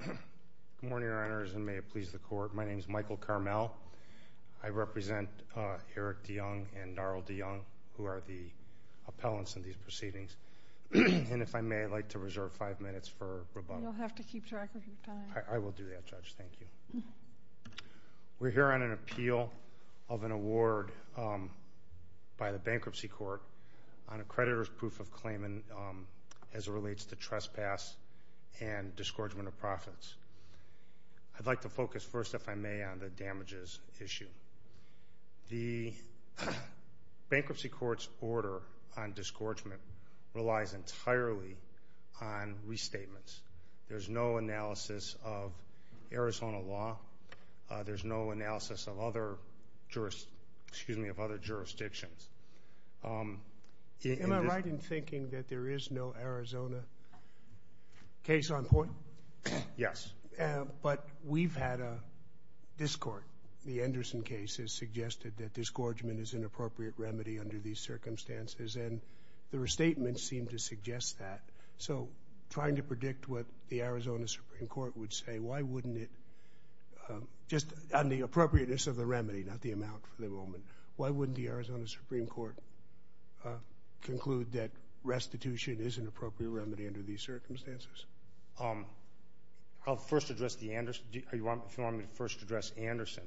Good morning, Your Honors, and may it please the Court. My name is Michael Carmel. I represent Eric De Jong and Daryl De Jong, who are the appellants in these proceedings. And if I may, I'd like to reserve five minutes for rebuttal. You'll have to keep track of your time. I will do that, Judge. Thank you. We're here on an appeal of an award by the Bankruptcy Court on a creditor's proof of pass and disgorgement of profits. I'd like to focus first, if I may, on the damages issue. The Bankruptcy Court's order on disgorgement relies entirely on restatements. There's no analysis of Arizona law. There's no analysis of other jurisdictions. Am I right in thinking that there is no Arizona case on point? Yes. But we've had a discord. The Anderson case has suggested that disgorgement is an appropriate remedy under these circumstances, and the restatements seem to suggest that. So trying to predict what the Arizona Supreme Court would say, why wouldn't it—just on the appropriateness of the remedy, not the amount for the moment—why wouldn't the Arizona Supreme Court conclude that restitution is an appropriate remedy under these circumstances? I'll first address the Anderson. If you want me to first address Anderson.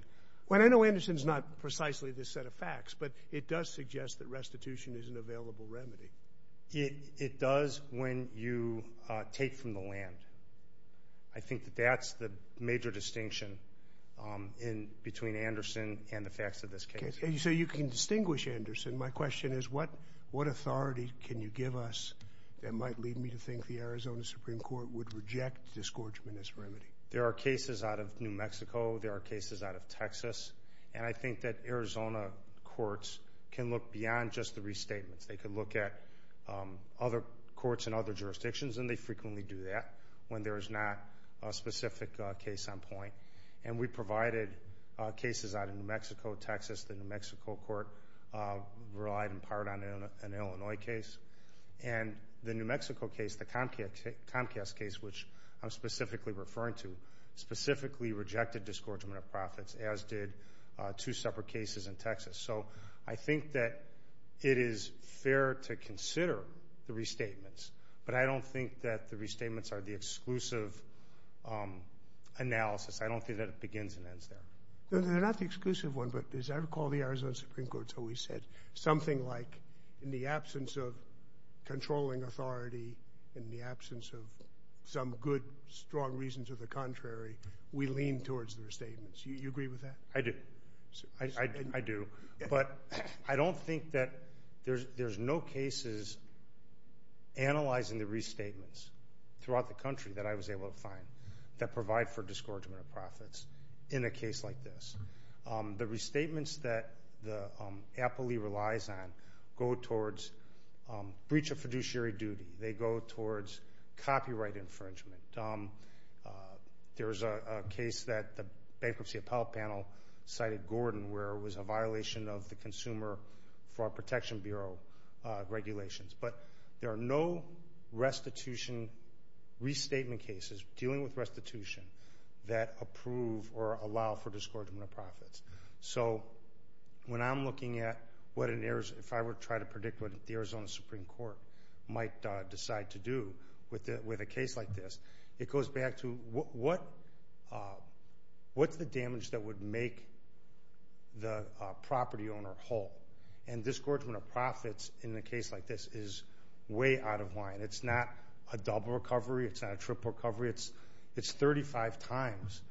Well, I know Anderson's not precisely this set of facts, but it does suggest that restitution is an available remedy. It does when you take from the land. I think that that's the major distinction between Anderson and the facts of this case. And so you can distinguish Anderson. My question is, what authority can you give us that might lead me to think the Arizona Supreme Court would reject disgorgement as a remedy? There are cases out of New Mexico. There are cases out of Texas. And I think that Arizona courts can look beyond just the restatements. They could look at other courts in other jurisdictions, and they frequently do that when there is not a specific case on point. And we provided cases out of New Mexico, Texas. The New Mexico court relied in part on an Illinois case. And the New Mexico case, the Comcast case, which I'm specifically referring to, specifically rejected disgorgement of profits, as did two separate cases in Texas. So I think that it is fair to consider the restatements, but I don't think that the restatements are the exclusive analysis. I don't think that it begins and ends there. No, they're not the exclusive one, but as I recall, the Arizona Supreme Court's always said something like, in the absence of controlling authority, in the absence of some good, strong reason to the contrary, we lean towards the restatements. Do you agree with that? I do. I do. But I don't think that there's no cases analyzing the restatements throughout the country that I was able to find that provide for disgorgement of profits in a case like this. The restatements that the appellee relies on go towards breach of fiduciary duty. They go towards copyright infringement. There's a case that Bankruptcy Appellate Panel cited Gordon, where it was a violation of the Consumer Fraud Protection Bureau regulations. But there are no restitution restatement cases, dealing with restitution, that approve or allow for disgorgement of profits. So when I'm looking at what, if I were to try to predict what the Arizona Supreme Court might decide to do with a case like this, it goes back to what's the damage that would make the property owner whole? And disgorgement of profits in a case like this is way out of line. It's not a double recovery. It's not a triple recovery. It's 35 times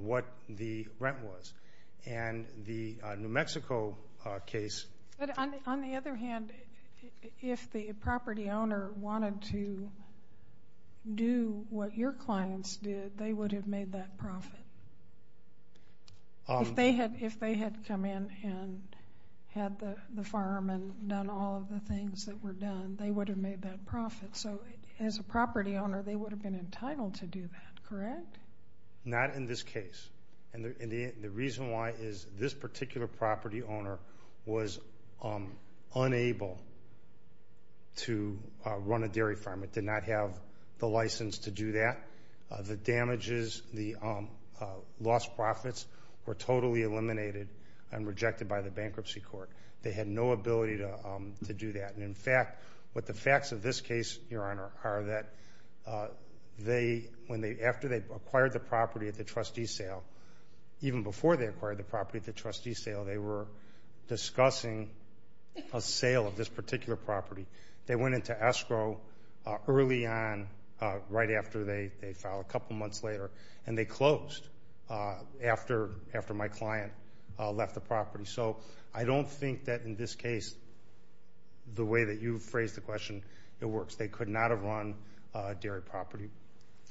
what the rent was. And the New Mexico case... But on the other hand, if the property owner wanted to do what your clients did, they would have made that profit. If they had come in and had the fireman done all of the things that were done, they would have made that profit. So as a property owner, they would have been entitled to do that, not in this case. And the reason why is this particular property owner was unable to run a dairy farm. It did not have the license to do that. The damages, the lost profits were totally eliminated and rejected by the bankruptcy court. They had no ability to do that. And in fact, what the facts of this case, Your Honor, are that after they acquired the property at the trustee sale, even before they acquired the property at the trustee sale, they were discussing a sale of this particular property. They went into escrow early on, right after they filed, a couple months later, and they closed after my client left the property. So I don't think that in this case, the way that you phrased the question, it works. They could not have run a dairy property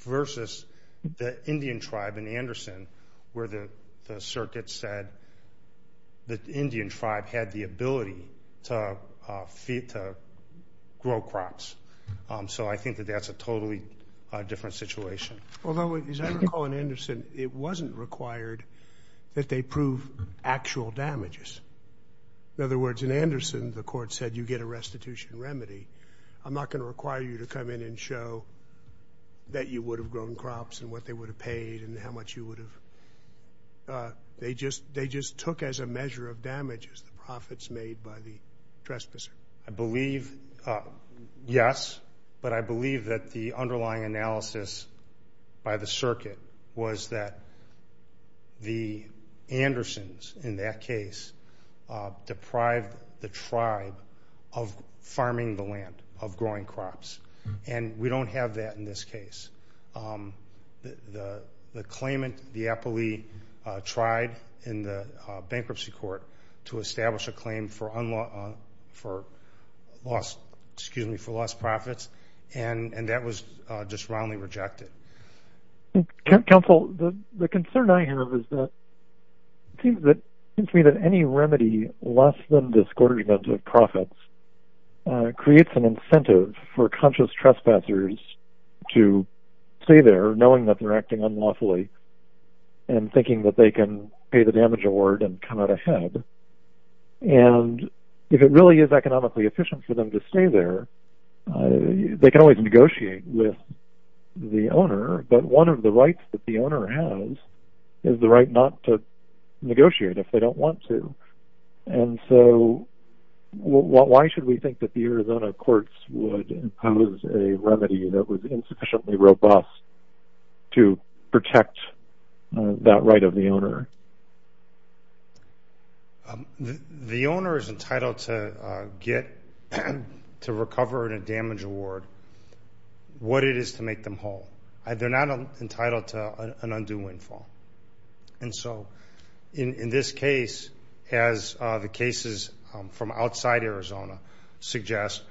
versus the Indian tribe in Anderson, where the circuit said that the Indian tribe had the ability to grow crops. So I think that that's a totally different situation. Although, as I recall in Anderson, it wasn't required that they prove actual damages. In other words, in Anderson, the court said you get a restitution remedy. I'm not going to require you to come in and show that you would have grown crops and what they would have paid and how much you would have. They just took as a measure of damages the profits made by the trespasser. I believe, yes, but I believe that the underlying analysis by the in that case, deprived the tribe of farming the land, of growing crops. We don't have that in this case. The claimant, the appellee, tried in the bankruptcy court to establish a claim for lost profits, and that was just roundly rejected. I think counsel, the concern I have is that it seems to me that any remedy less than this quarter's amount of profits creates an incentive for conscious trespassers to stay there knowing that they're acting unlawfully and thinking that they can pay the damage award and come out ahead. If it really is economically efficient for them to stay there, they can always negotiate with the owner, but one of the rights that the owner has is the right not to negotiate if they don't want to. Why should we think that the Arizona courts would impose a remedy that was insufficiently robust to protect that right of the owner? The owner is entitled to get to recover in a damage award what it is to make them whole. They're not entitled to an undue windfall, and so in this case, as the cases from outside Arizona suggest,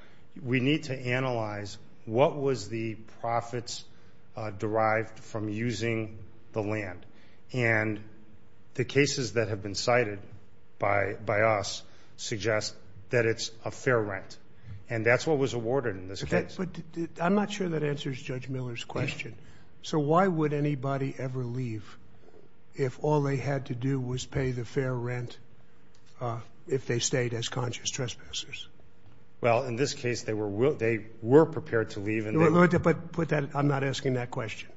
we need to analyze what was the profits derived from using the land. The cases that have been cited by us suggest that it's a fair rent, and that's what was awarded in this case. I'm not sure that answers Judge Miller's question. Why would anybody ever leave if all they had to do was pay the fair rent if they stayed as conscious trespassers? In this case, they were prepared to leave. I'm not asking that question.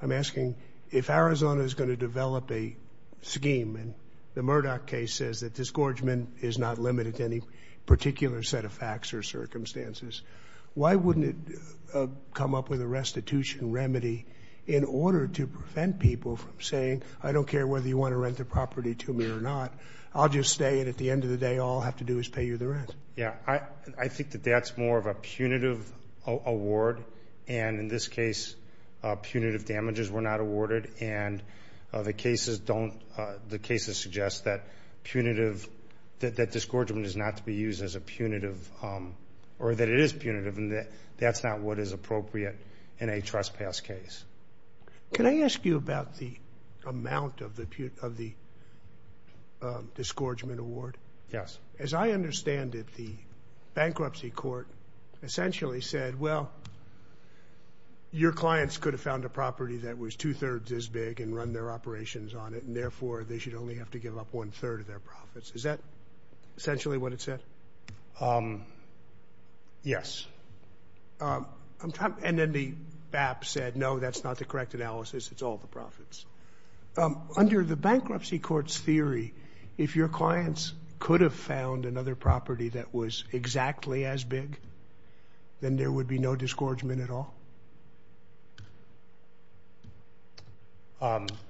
I'm asking if Arizona is going to develop a scheme, and the Murdoch case says that disgorgement is not limited to any particular set of facts or circumstances, why wouldn't it come up with a restitution remedy in order to prevent people from saying, I don't care whether you want to rent the property to me or not. I'll just stay, and at the end of the day, all I'll have to do is pay you the rent. Yeah, I think that that's more of a punitive award, and in this case, punitive damages were not awarded, and the cases suggest that punitive, that disgorgement is not to be used as a punitive, or that it is punitive, and that's not what is appropriate in a trespass case. Can I ask you about the amount of the disgorgement award? Yes. As I understand it, the bankruptcy court essentially said, well, your clients could have found a property that was two-thirds as big and run their operations on it, and therefore, they should only have to give up one-third of their profits. Is that essentially what it said? Yes. I'm trying, and then the BAP said, no, that's not the correct analysis. It's all the profits. Under the bankruptcy court's theory, if your clients could have found another property that was exactly as big, then there would be no disgorgement at all?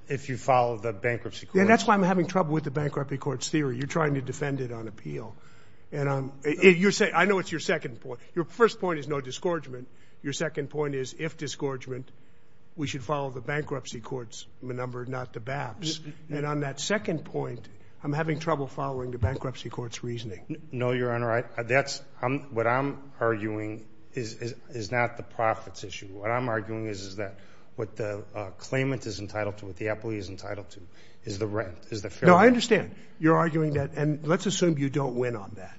If you follow the bankruptcy court? Yeah, that's why I'm having trouble with the bankruptcy court's theory. You're trying to say, your first point is no disgorgement. Your second point is, if disgorgement, we should follow the bankruptcy court's number, not the BAP's. And on that second point, I'm having trouble following the bankruptcy court's reasoning. No, Your Honor. What I'm arguing is not the profits issue. What I'm arguing is that what the claimant is entitled to, what the employee is entitled to, is the rent, is the fare. No, I understand. You're arguing that, and let's assume you don't win on that.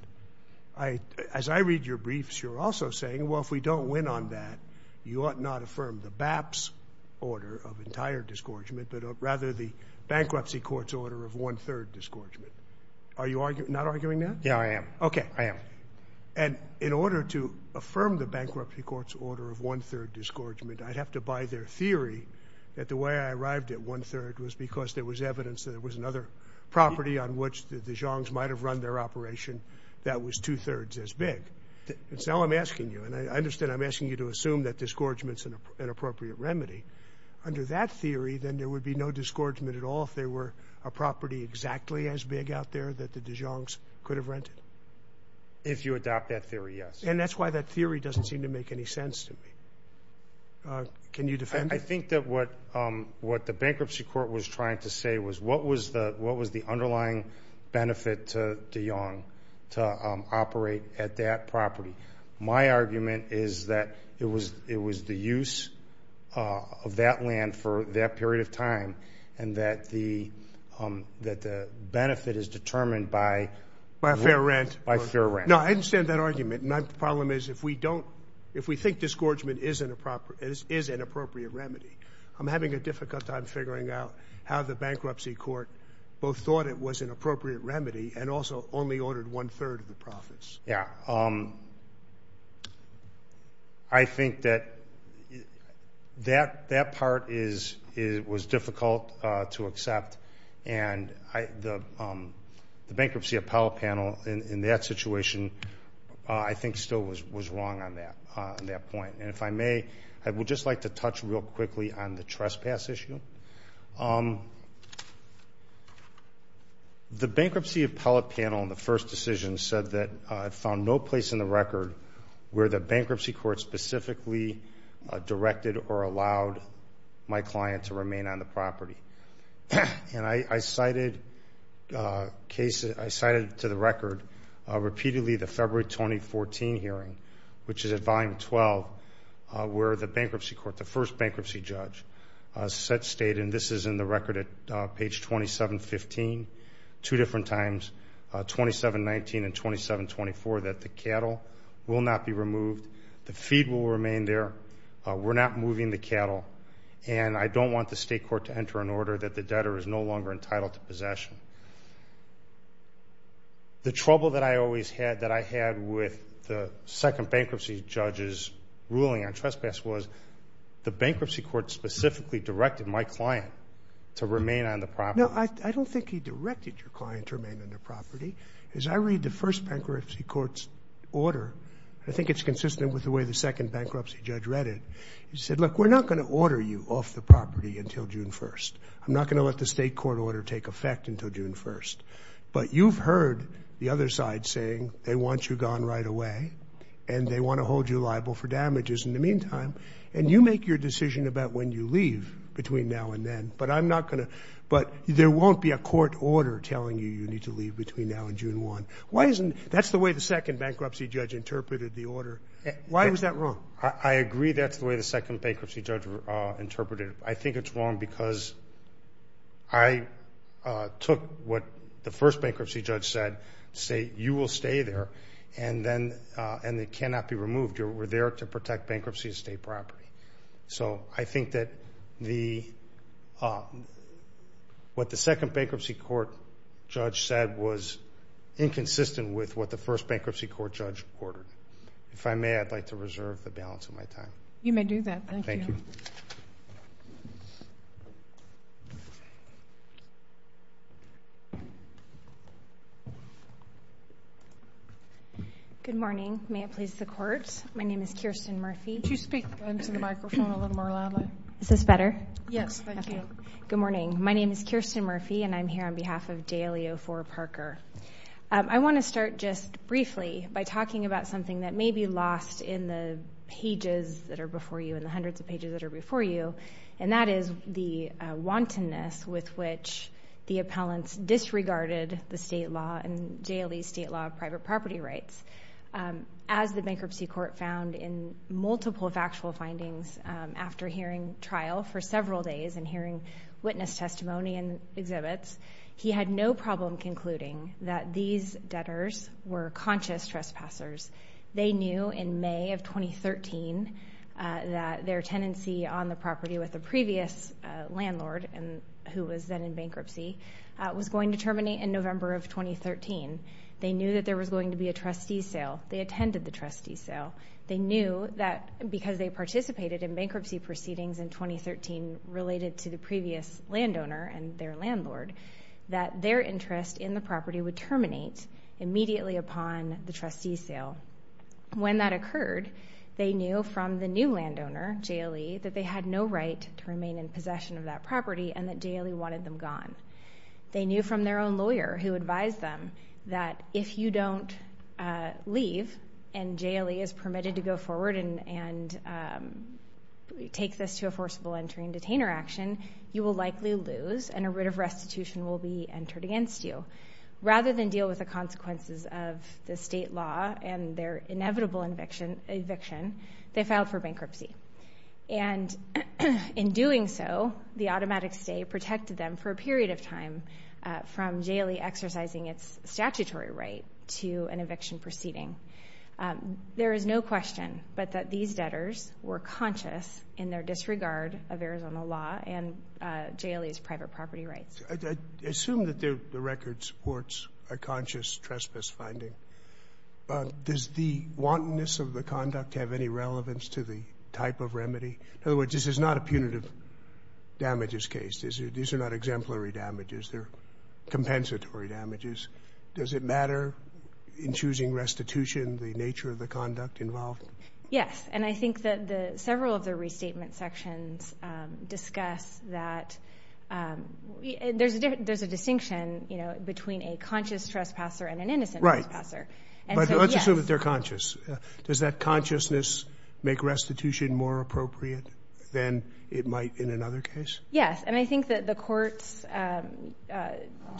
As I read your briefs, you're also saying, well, if we don't win on that, you ought not affirm the BAP's order of entire disgorgement, but rather the bankruptcy court's order of one-third disgorgement. Are you not arguing that? Yeah, I am. Okay. I am. And in order to affirm the bankruptcy court's order of one-third disgorgement, I'd have to buy their theory that the way I arrived at one-third was because there was evidence that there was another property on which the Dijons might have run their operation that was two-thirds as big. And so I'm asking you, and I understand I'm asking you to assume that disgorgement's an appropriate remedy. Under that theory, then there would be no disgorgement at all if there were a property exactly as big out there that the Dijons could have rented? If you adopt that theory, yes. And that's why that theory doesn't seem to make any sense to me. Can you defend it? I think that what the bankruptcy court was trying to say was what was the underlying benefit to Dijon to operate at that property. My argument is that it was the use of that land for that period of time and that the benefit is determined by fair rent. No, I understand that argument. My problem is if we think disgorgement is an appropriate remedy, I'm having a difficult time figuring out how the bankruptcy court both thought it was an appropriate remedy and also only ordered one-third of the profits. Yeah. I think that that part was difficult to accept, and the bankruptcy appellate panel in that situation I think still was wrong on that point. And if I may, I would just like to touch real quickly on the trespass issue. The bankruptcy appellate panel in the first decision said that it found no place in the record where the bankruptcy court specifically directed or allowed my client to remain on the property. And I cited to the record repeatedly the February 2014 hearing, which is at volume 12, where the bankruptcy court, the first bankruptcy judge, said, stated, and this is in the record at page 2715, two different times, 2719 and 2724, that the cattle will not be removed, the feed will remain there, we're not moving the cattle, and I don't want the state court to enter an order that the debtor is no longer entitled to judge's ruling on trespass was the bankruptcy court specifically directed my client to remain on the property. No, I don't think he directed your client to remain on the property. As I read the first bankruptcy court's order, I think it's consistent with the way the second bankruptcy judge read it. He said, look, we're not going to order you off the property until June 1st. I'm not going to let the state court order take effect until June 1st. But you've heard the other side saying they want you gone right away and they want to hold you liable for damages in the meantime. And you make your decision about when you leave between now and then, but I'm not going to, but there won't be a court order telling you you need to leave between now and June 1. Why isn't, that's the way the second bankruptcy judge interpreted the order. Why is that wrong? I agree that's the way the second bankruptcy judge interpreted it. I think it's wrong because I took what the first bankruptcy judge said, say, you will stay there and it cannot be removed. You were there to protect bankruptcy estate property. So I think that what the second bankruptcy court judge said was inconsistent with what the first bankruptcy court judge ordered. If I may, I'd like to reserve the balance of my time. You may do that. Thank you. Good morning. May it please the court. My name is Kirsten Murphy. Could you speak into the microphone a little more loudly? Is this better? Yes, thank you. Good morning. My name is Kirsten Murphy and I'm here on behalf of Dalio for Parker. I want to start just briefly by talking about something that may be lost in the pages that are before you, and that is the wantonness with which the appellants disregarded the state law and daily state law of private property rights. As the bankruptcy court found in multiple factual findings after hearing trial for several days and hearing witness testimony and exhibits, he had no problem concluding that these debtors were conscious trespassers. They knew in May of 2013 that their tenancy on the property with the previous landlord who was then in bankruptcy was going to terminate in November of 2013. They knew that there was going to be a trustee sale. They attended the trustee sale. They knew that because they participated in bankruptcy proceedings in 2013 related to the previous landowner and their landlord, that their interest in the property would terminate immediately upon the trustee sale. When that occurred, they knew from the new landowner, J.L.E., that they had no right to remain in possession of that property and that J.L.E. wanted them gone. They knew from their own lawyer who advised them that if you don't leave and J.L.E. is permitted to go forward and take this to a forcible entry and detainer action, you will lose and a writ of restitution will be entered against you. Rather than deal with the consequences of the state law and their inevitable eviction, they filed for bankruptcy. And in doing so, the automatic stay protected them for a period of time from J.L.E. exercising its statutory right to an eviction proceeding. There is no question but that these debtors were conscious in their private property rights. I assume that the record supports a conscious trespass finding. Does the wantonness of the conduct have any relevance to the type of remedy? In other words, this is not a punitive damages case. These are not exemplary damages. They're compensatory damages. Does it matter in choosing restitution the nature of the conduct involved? Yes. And I think that several of the restatement sections discuss that there's a distinction between a conscious trespasser and an innocent trespasser. Right. But let's assume that they're conscious. Does that consciousness make restitution more appropriate than it might in another case? Yes. And I think that the court's,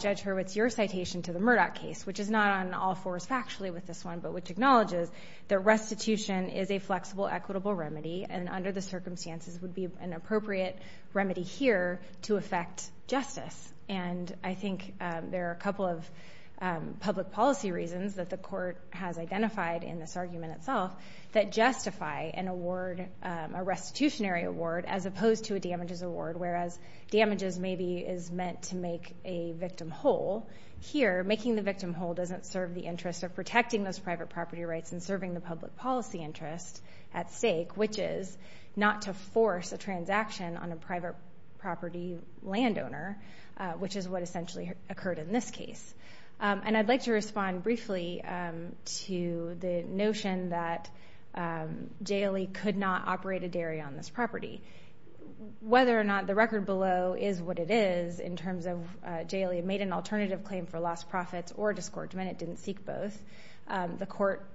Judge Hurwitz, your citation to the Murdoch case, which is not on all fours factually with this one, but which acknowledges that restitution is a flexible equitable remedy and under the circumstances would be an appropriate remedy here to affect justice. And I think there are a couple of public policy reasons that the court has identified in this argument itself that justify an award, a restitutionary award, as opposed to a damages award, whereas damages maybe is meant to make a victim whole. Here, making the victim whole doesn't serve the interest of protecting those private property rights and serving the public policy interest at stake, which is not to force a transaction on a private property landowner, which is what essentially occurred in this case. And I'd like to respond briefly to the notion that J.L.E. could not operate a dairy on this property. Whether or not the record below is what it is in terms of J.L.E. made an alternative claim for lost profits or disgorgement, it didn't seek both. The court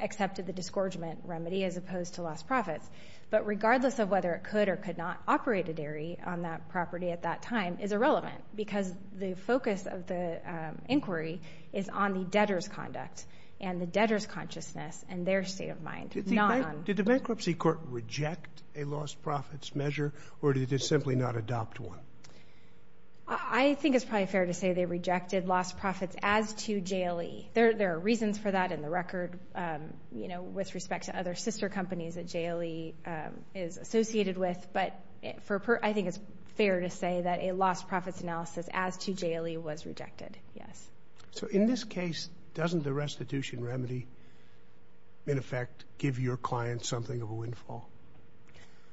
accepted the disgorgement remedy as opposed to lost profits. But regardless of whether it could or could not operate a dairy on that property at that time is irrelevant because the focus of the inquiry is on the debtor's conduct and the debtor's consciousness and their state of mind, not on... Did the bankruptcy court reject a lost profits measure or did it simply not adopt one? I think it's probably fair to say they rejected lost profits as to J.L.E. There are reasons for that in the record, you know, with respect to other sister companies that J.L.E. is associated with, but I think it's fair to say that a lost profits analysis as to J.L.E. was rejected, yes. So in this case, doesn't the restitution remedy in effect give your client something of a windfall?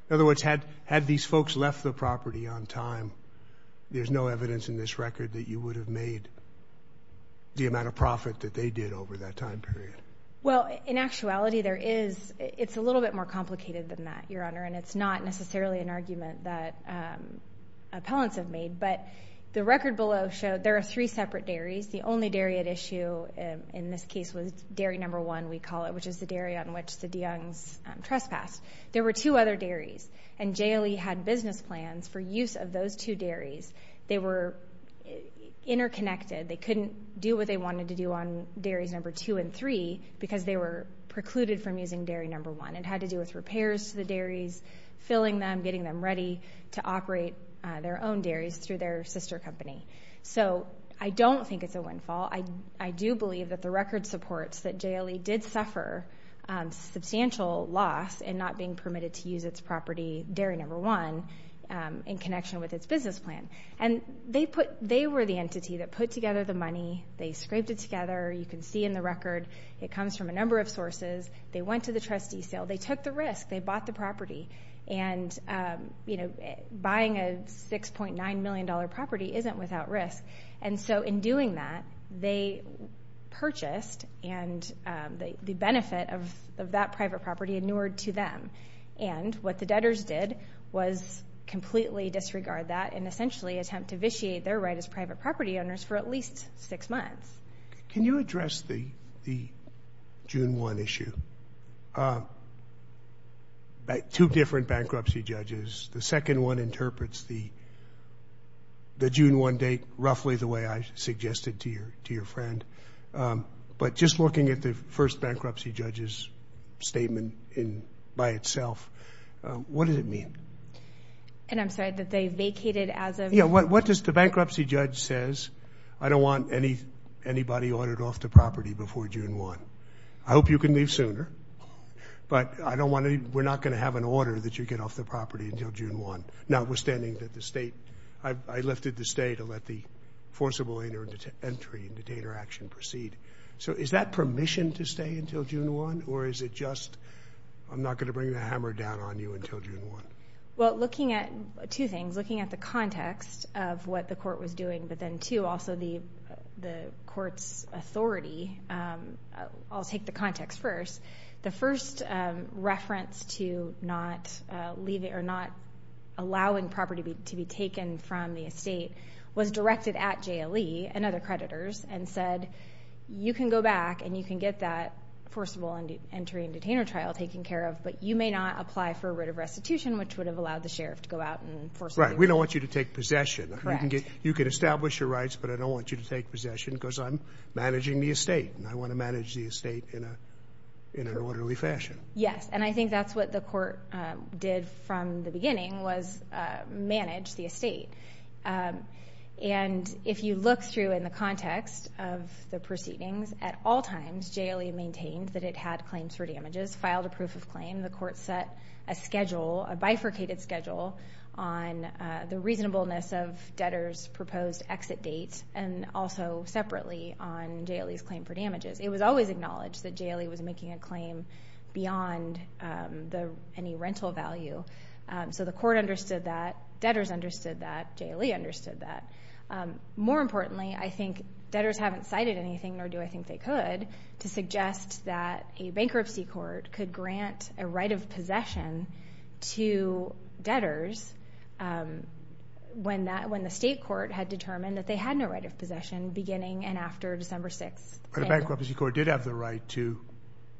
In other words, had these folks left the property on time, there's no evidence in this record that you would have made the amount of profit that they did over that time period. Well, in actuality, there is. It's a little bit more complicated than that, Your Honor, and it's not necessarily an argument that appellants have made, but the record below showed there are three separate dairies. The only dairy at issue in this case was dairy number one, we call it, which is the dairy on which the DeYoungs trespassed. There were two other dairies, and J.L.E. had business plans for use of those two dairies. They were interconnected. They couldn't do what they wanted to do on dairies number two and three because they were precluded from using dairy number one. It had to do with repairs to the dairies, filling them, getting them ready to operate their own dairies through their sister company. So I don't think it's a windfall. I do believe that the record supports that J.L.E. did suffer substantial loss in not being permitted to use its property, dairy number one, in connection with its business plan. And they put, they were the entity that put together the money. They scraped it together. You can see in the record, it comes from a number of sources. They went to the trustee sale. They took the risk. They bought the property. And, you know, buying a $6.9 million property isn't without risk. And so in doing that, they purchased and the benefit of that private property inured to them. And what the debtors did was completely disregard that and essentially attempt to vitiate their right as private property owners for at least six months. Can you address the June 1 issue? Two different bankruptcy judges. The second one interprets the friend. But just looking at the first bankruptcy judge's statement in by itself, what does it mean? And I'm sorry, that they vacated as of... Yeah, what does the bankruptcy judge says? I don't want anybody ordered off the property before June 1. I hope you can leave sooner. But I don't want to, we're not going to have an order that you get off the property until June 1, notwithstanding that the state, I lifted the state to let the forcible entry and detainer action proceed. So is that permission to stay until June 1? Or is it just, I'm not going to bring the hammer down on you until June 1? Well, looking at two things, looking at the context of what the court was doing, but then to also the court's authority. I'll take the context first. The first reference to not leaving or not allowing property to be taken from the estate was directed at JLE and other creditors and said, you can go back and you can get that forcible entry and detainer trial taken care of, but you may not apply for a writ of restitution, which would have allowed the sheriff to go out and forcibly... Right, we don't want you to take possession. You can establish your rights, but I don't want you to take possession because I'm managing the estate and I want to manage the estate in an orderly fashion. Yes, and I think that's what the court did from the beginning was manage the estate. And if you look through in the context of the proceedings, at all times, JLE maintained that it had claims for damages, filed a proof of claim. The court set a schedule, a bifurcated schedule on the reasonableness of debtors' proposed exit date and also separately on JLE's claim for damages. It was always acknowledged that JLE was making a claim beyond any rental value. So the court understood that, debtors understood that, JLE understood that. More importantly, I think debtors haven't cited anything, nor do I think they could, to suggest that a bankruptcy court could grant a right of possession to debtors when the state court had determined that they had no right of possession beginning and after December 6th. But a bankruptcy court did have the right to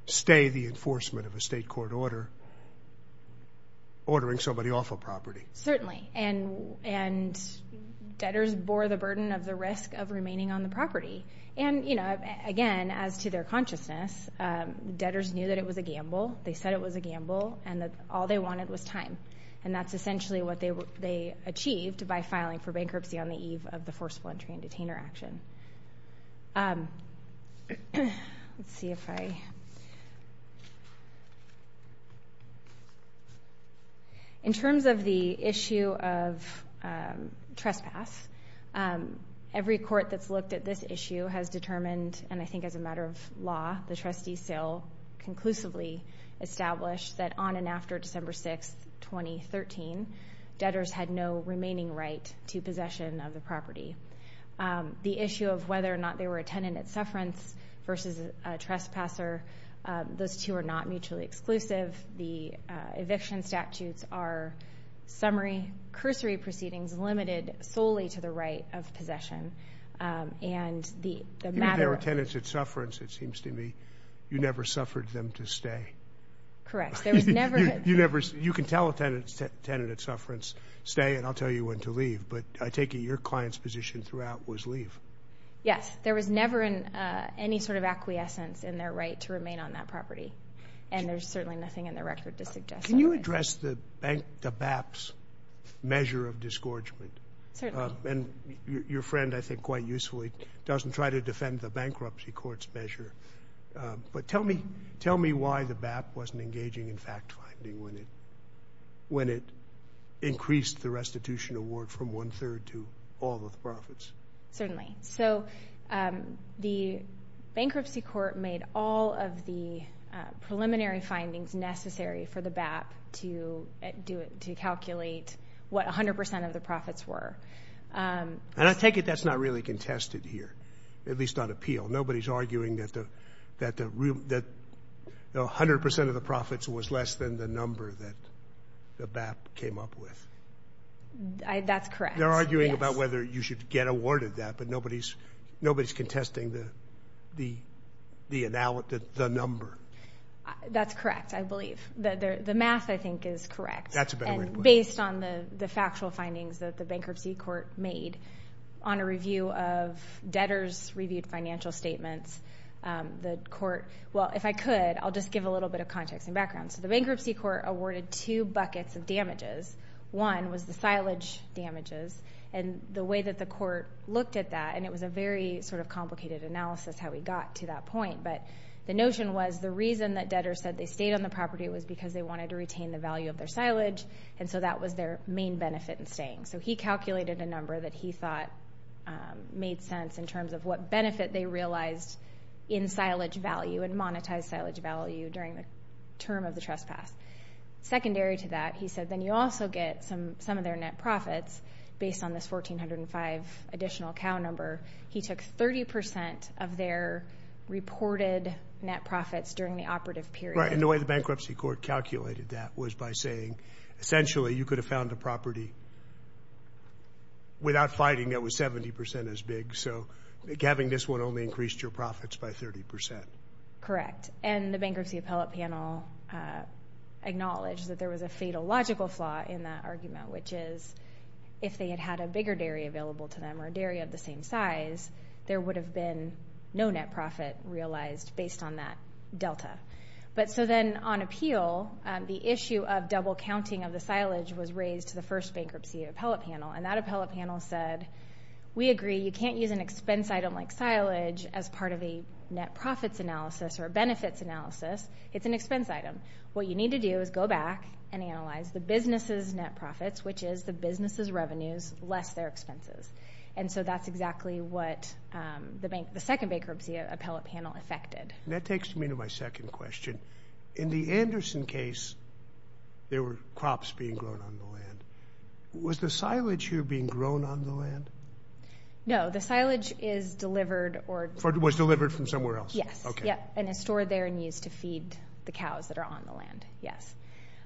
stay the enforcement of a state court order, ordering somebody off a property. Certainly, and debtors bore the burden of the risk of remaining on the property. And again, as to their consciousness, debtors knew that it was a gamble. They said it was a gamble and that all they wanted was time. And that's essentially what they achieved by filing for bankruptcy on the eve of the forceful entry and detainer action. Let's see if I... In terms of the issue of trespass, every court that's looked at this issue has determined, and I think as a matter of law, the trustee still conclusively established that on and after December 6th, 2013, debtors had no remaining right to possession of the property. The issue of whether or not they were a tenant at sufferance versus a trespasser, those two are not mutually exclusive. The eviction statutes are summary cursory proceedings limited solely to the right of possession. Even if they were tenants at sufferance, it seems to me, you never suffered them to stay. Correct. There was never... You can tell a tenant at sufferance, stay and I'll tell you when to leave. But I take it your client's position throughout was leave. Yes. There was never any sort of acquiescence in their right to remain on that property. And there's certainly nothing in the record to suggest that. Can you address the BAPS measure of disgorgement? Certainly. And your friend, I think quite usefully, doesn't try to defend the bankruptcy court's measure. But tell me why the BAPS wasn't engaging in fact finding when it increased the restitution award from one third to all of the profits. Certainly. The bankruptcy court made all of the preliminary findings necessary for the BAPS to calculate what 100% of the profits were. And I take it that's not really contested here, at least on appeal. Nobody's arguing that 100% of the profits was less than the number that the BAPS came up with. That's correct. They're arguing about whether you should get awarded that, but nobody's contesting the number. That's correct, I believe. The math, I think, is correct. That's a better way to put it. And based on the factual findings that the bankruptcy court made on a review of debtors' reviewed financial statements, the court... Well, if I could, I'll just give a little bit of context and background. So the bankruptcy court awarded two buckets of damages. One was the silage damages. And the way that the court looked at that, and it was a very sort of complicated analysis how we got to that point, but the notion was the reason that debtors said they stayed on the property was because they wanted to retain the value of their silage, and so that was their main benefit in staying. So he calculated a number that he thought made sense in terms of what benefit they realized in silage value and monetized silage value during the term of the trespass. Secondary to that, he said, then you also get some of their net profits based on this 1,405 additional cow number. He took 30% of their reported net profits during the operative period. Right. And the way the bankruptcy court calculated that was by saying, essentially, you could have found a property without fighting that was 70% as big, so having this one only increased your profits by 30%. Correct. And the bankruptcy appellate panel acknowledged that there was a fatal logical flaw in that argument, which is if they had had a bigger dairy available to them or a dairy of the same size, there would have been no net profit realized based on that delta. But so then on appeal, the issue of double counting of the silage was raised to the first bankruptcy appellate panel, and that appellate panel said, we agree you can't use an expense item like silage as part of a net profits analysis or benefits analysis. It's an expense item. What you need to do is go back and analyze the business's net profits, which is the business's revenues less their expenses, and so that's exactly what the second bankruptcy appellate panel affected. That takes me to my second question. In the Anderson case, there were crops being grown on the land. Was the silage here being grown on the land? No. The silage is delivered or- Was delivered from somewhere else? Yes. Okay. And it's stored there and used to feed the cows that are on the land. Yes.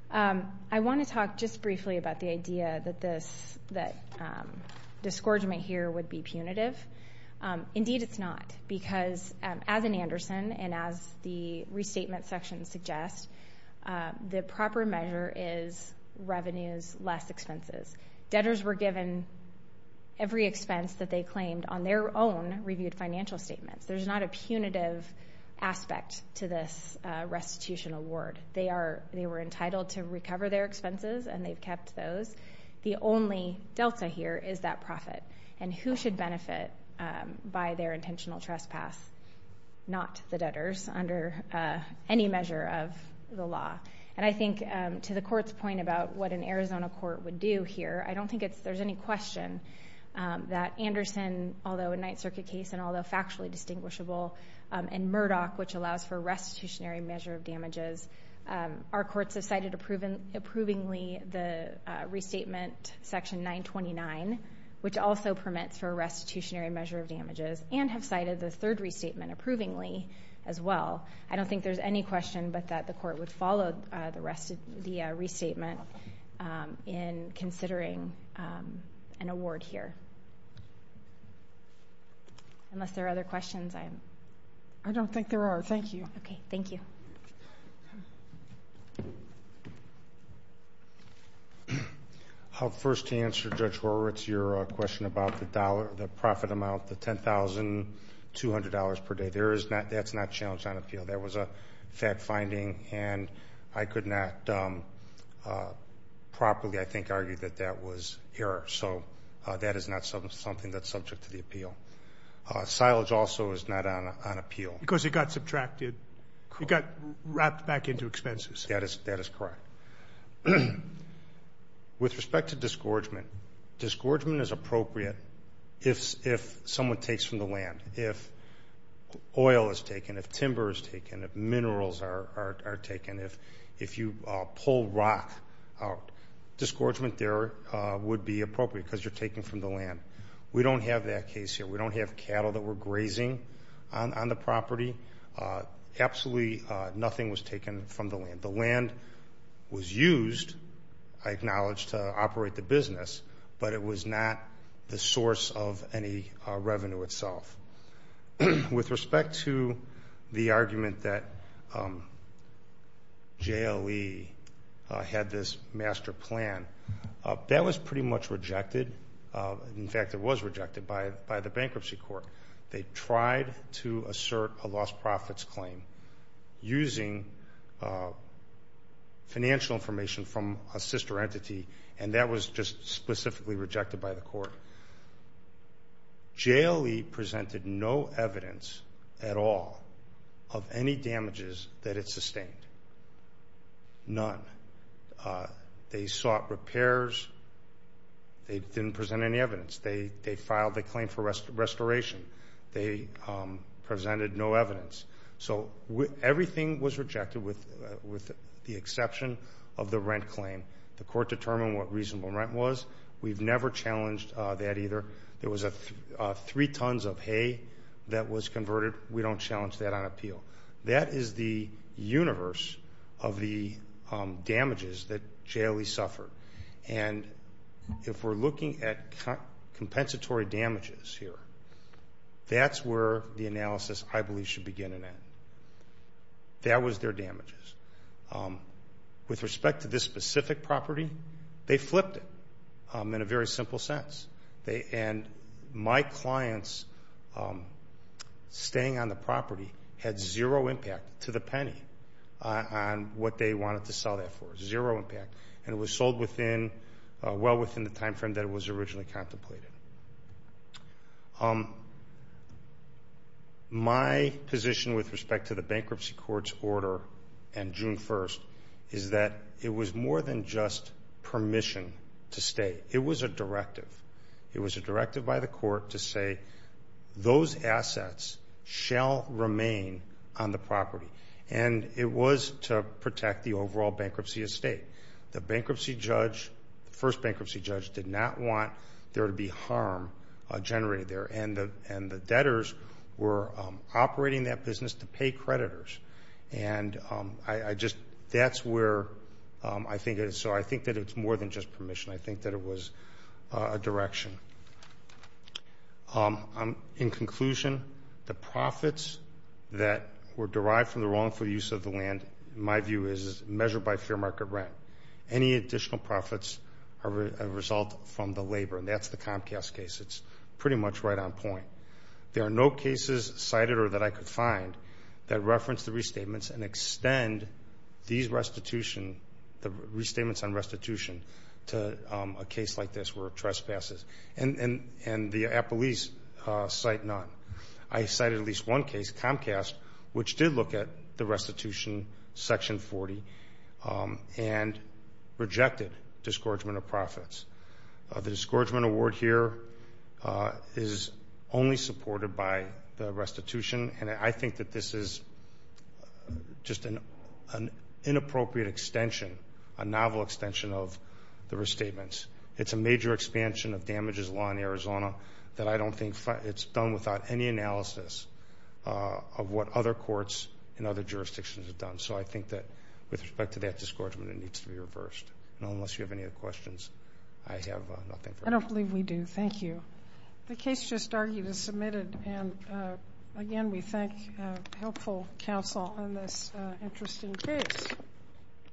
I want to talk just briefly about the idea that this- that discouragement here would be punitive. Indeed, it's not, because as in Anderson and as the restatement section suggests, the proper measure is revenues less expenses. Debtors were given every expense that they claimed on their own reviewed financial statements. There's not a punitive aspect to this to recover their expenses, and they've kept those. The only delta here is that profit, and who should benefit by their intentional trespass? Not the debtors under any measure of the law. And I think to the court's point about what an Arizona court would do here, I don't think it's- there's any question that Anderson, although a Ninth Circuit case and although factually distinguishable, and Murdoch, which allows for a restitutionary measure of approvingly the restatement section 929, which also permits for a restitutionary measure of damages, and have cited the third restatement approvingly as well. I don't think there's any question but that the court would follow the rest- the restatement in considering an award here. Unless there are other questions, I'm- I don't think there are. Thank you. Okay. Thank you. I'll first answer, Judge Horowitz, your question about the dollar- the profit amount, the $10,200 per day. There is not- that's not challenged on appeal. That was a fact finding, and I could not properly, I think, argue that that was error. So that is not something that's subject to the appeal. Silage also is not on appeal. Because it got subtracted- it got wrapped back into expenses. That is- that is correct. With respect to disgorgement, disgorgement is appropriate if someone takes from the land. If oil is taken, if timber is taken, if minerals are taken, if you pull rock out, disgorgement there would be appropriate because you're taking from the land. We don't have that case here. We don't have cattle that were grazing on the property. Absolutely nothing was taken from the land. The land was used, I acknowledge, to operate the business, but it was not the source of any revenue itself. With respect to the argument that JLE had this master plan, that was pretty much rejected. In fact, it was rejected by the bankruptcy court. They tried to assert a lost profits claim using financial information from a sister entity, and that was just specifically rejected by the court. JLE presented no evidence at all of any damages that it sustained. None. They sought repairs. They didn't present any evidence. They filed a claim for restoration. They presented no evidence. So everything was rejected with the exception of the rent claim. The court determined what reasonable rent was. We've never challenged that either. There was three tons of hay that was converted. We don't challenge that on appeal. That is the universe of the damages that JLE suffered. If we're looking at compensatory damages here, that's where the analysis, I believe, should begin and end. That was their damages. With respect to this specific property, they flipped it in a very simple sense. My clients on staying on the property had zero impact to the penny on what they wanted to sell it for. Zero impact. It was sold well within the time frame that it was originally contemplated. My position with respect to the bankruptcy court's order on June 1st is that it was more than just state. It was a directive. It was a directive by the court to say those assets shall remain on the property. It was to protect the overall bankruptcy estate. The first bankruptcy judge did not want there to be harm generated there. The debtors were operating that business to pay I think that it was a direction. In conclusion, the profits that were derived from the wrongful use of the land, in my view, is measured by fair market rent. Any additional profits are a result from the labor. That's the Comcast case. It's pretty much right on point. There are no cases cited or that I could find that reference the restatements and extend the restatements on a case like this were trespasses. The Appalese cite none. I cited at least one case, Comcast, which did look at the restitution section 40 and rejected discouragement of profits. The discouragement award here is only supported by the restitution. I think that this is just an inappropriate extension, a novel extension of the restatements. It's a major expansion of damages law in Arizona that I don't think it's done without any analysis of what other courts in other jurisdictions have done. I think that with respect to that discouragement, it needs to be reversed. Unless you have any other questions, I have nothing. I don't believe we do. Thank you. The case just argued is submitted. Again, we thank helpful counsel on this interesting case.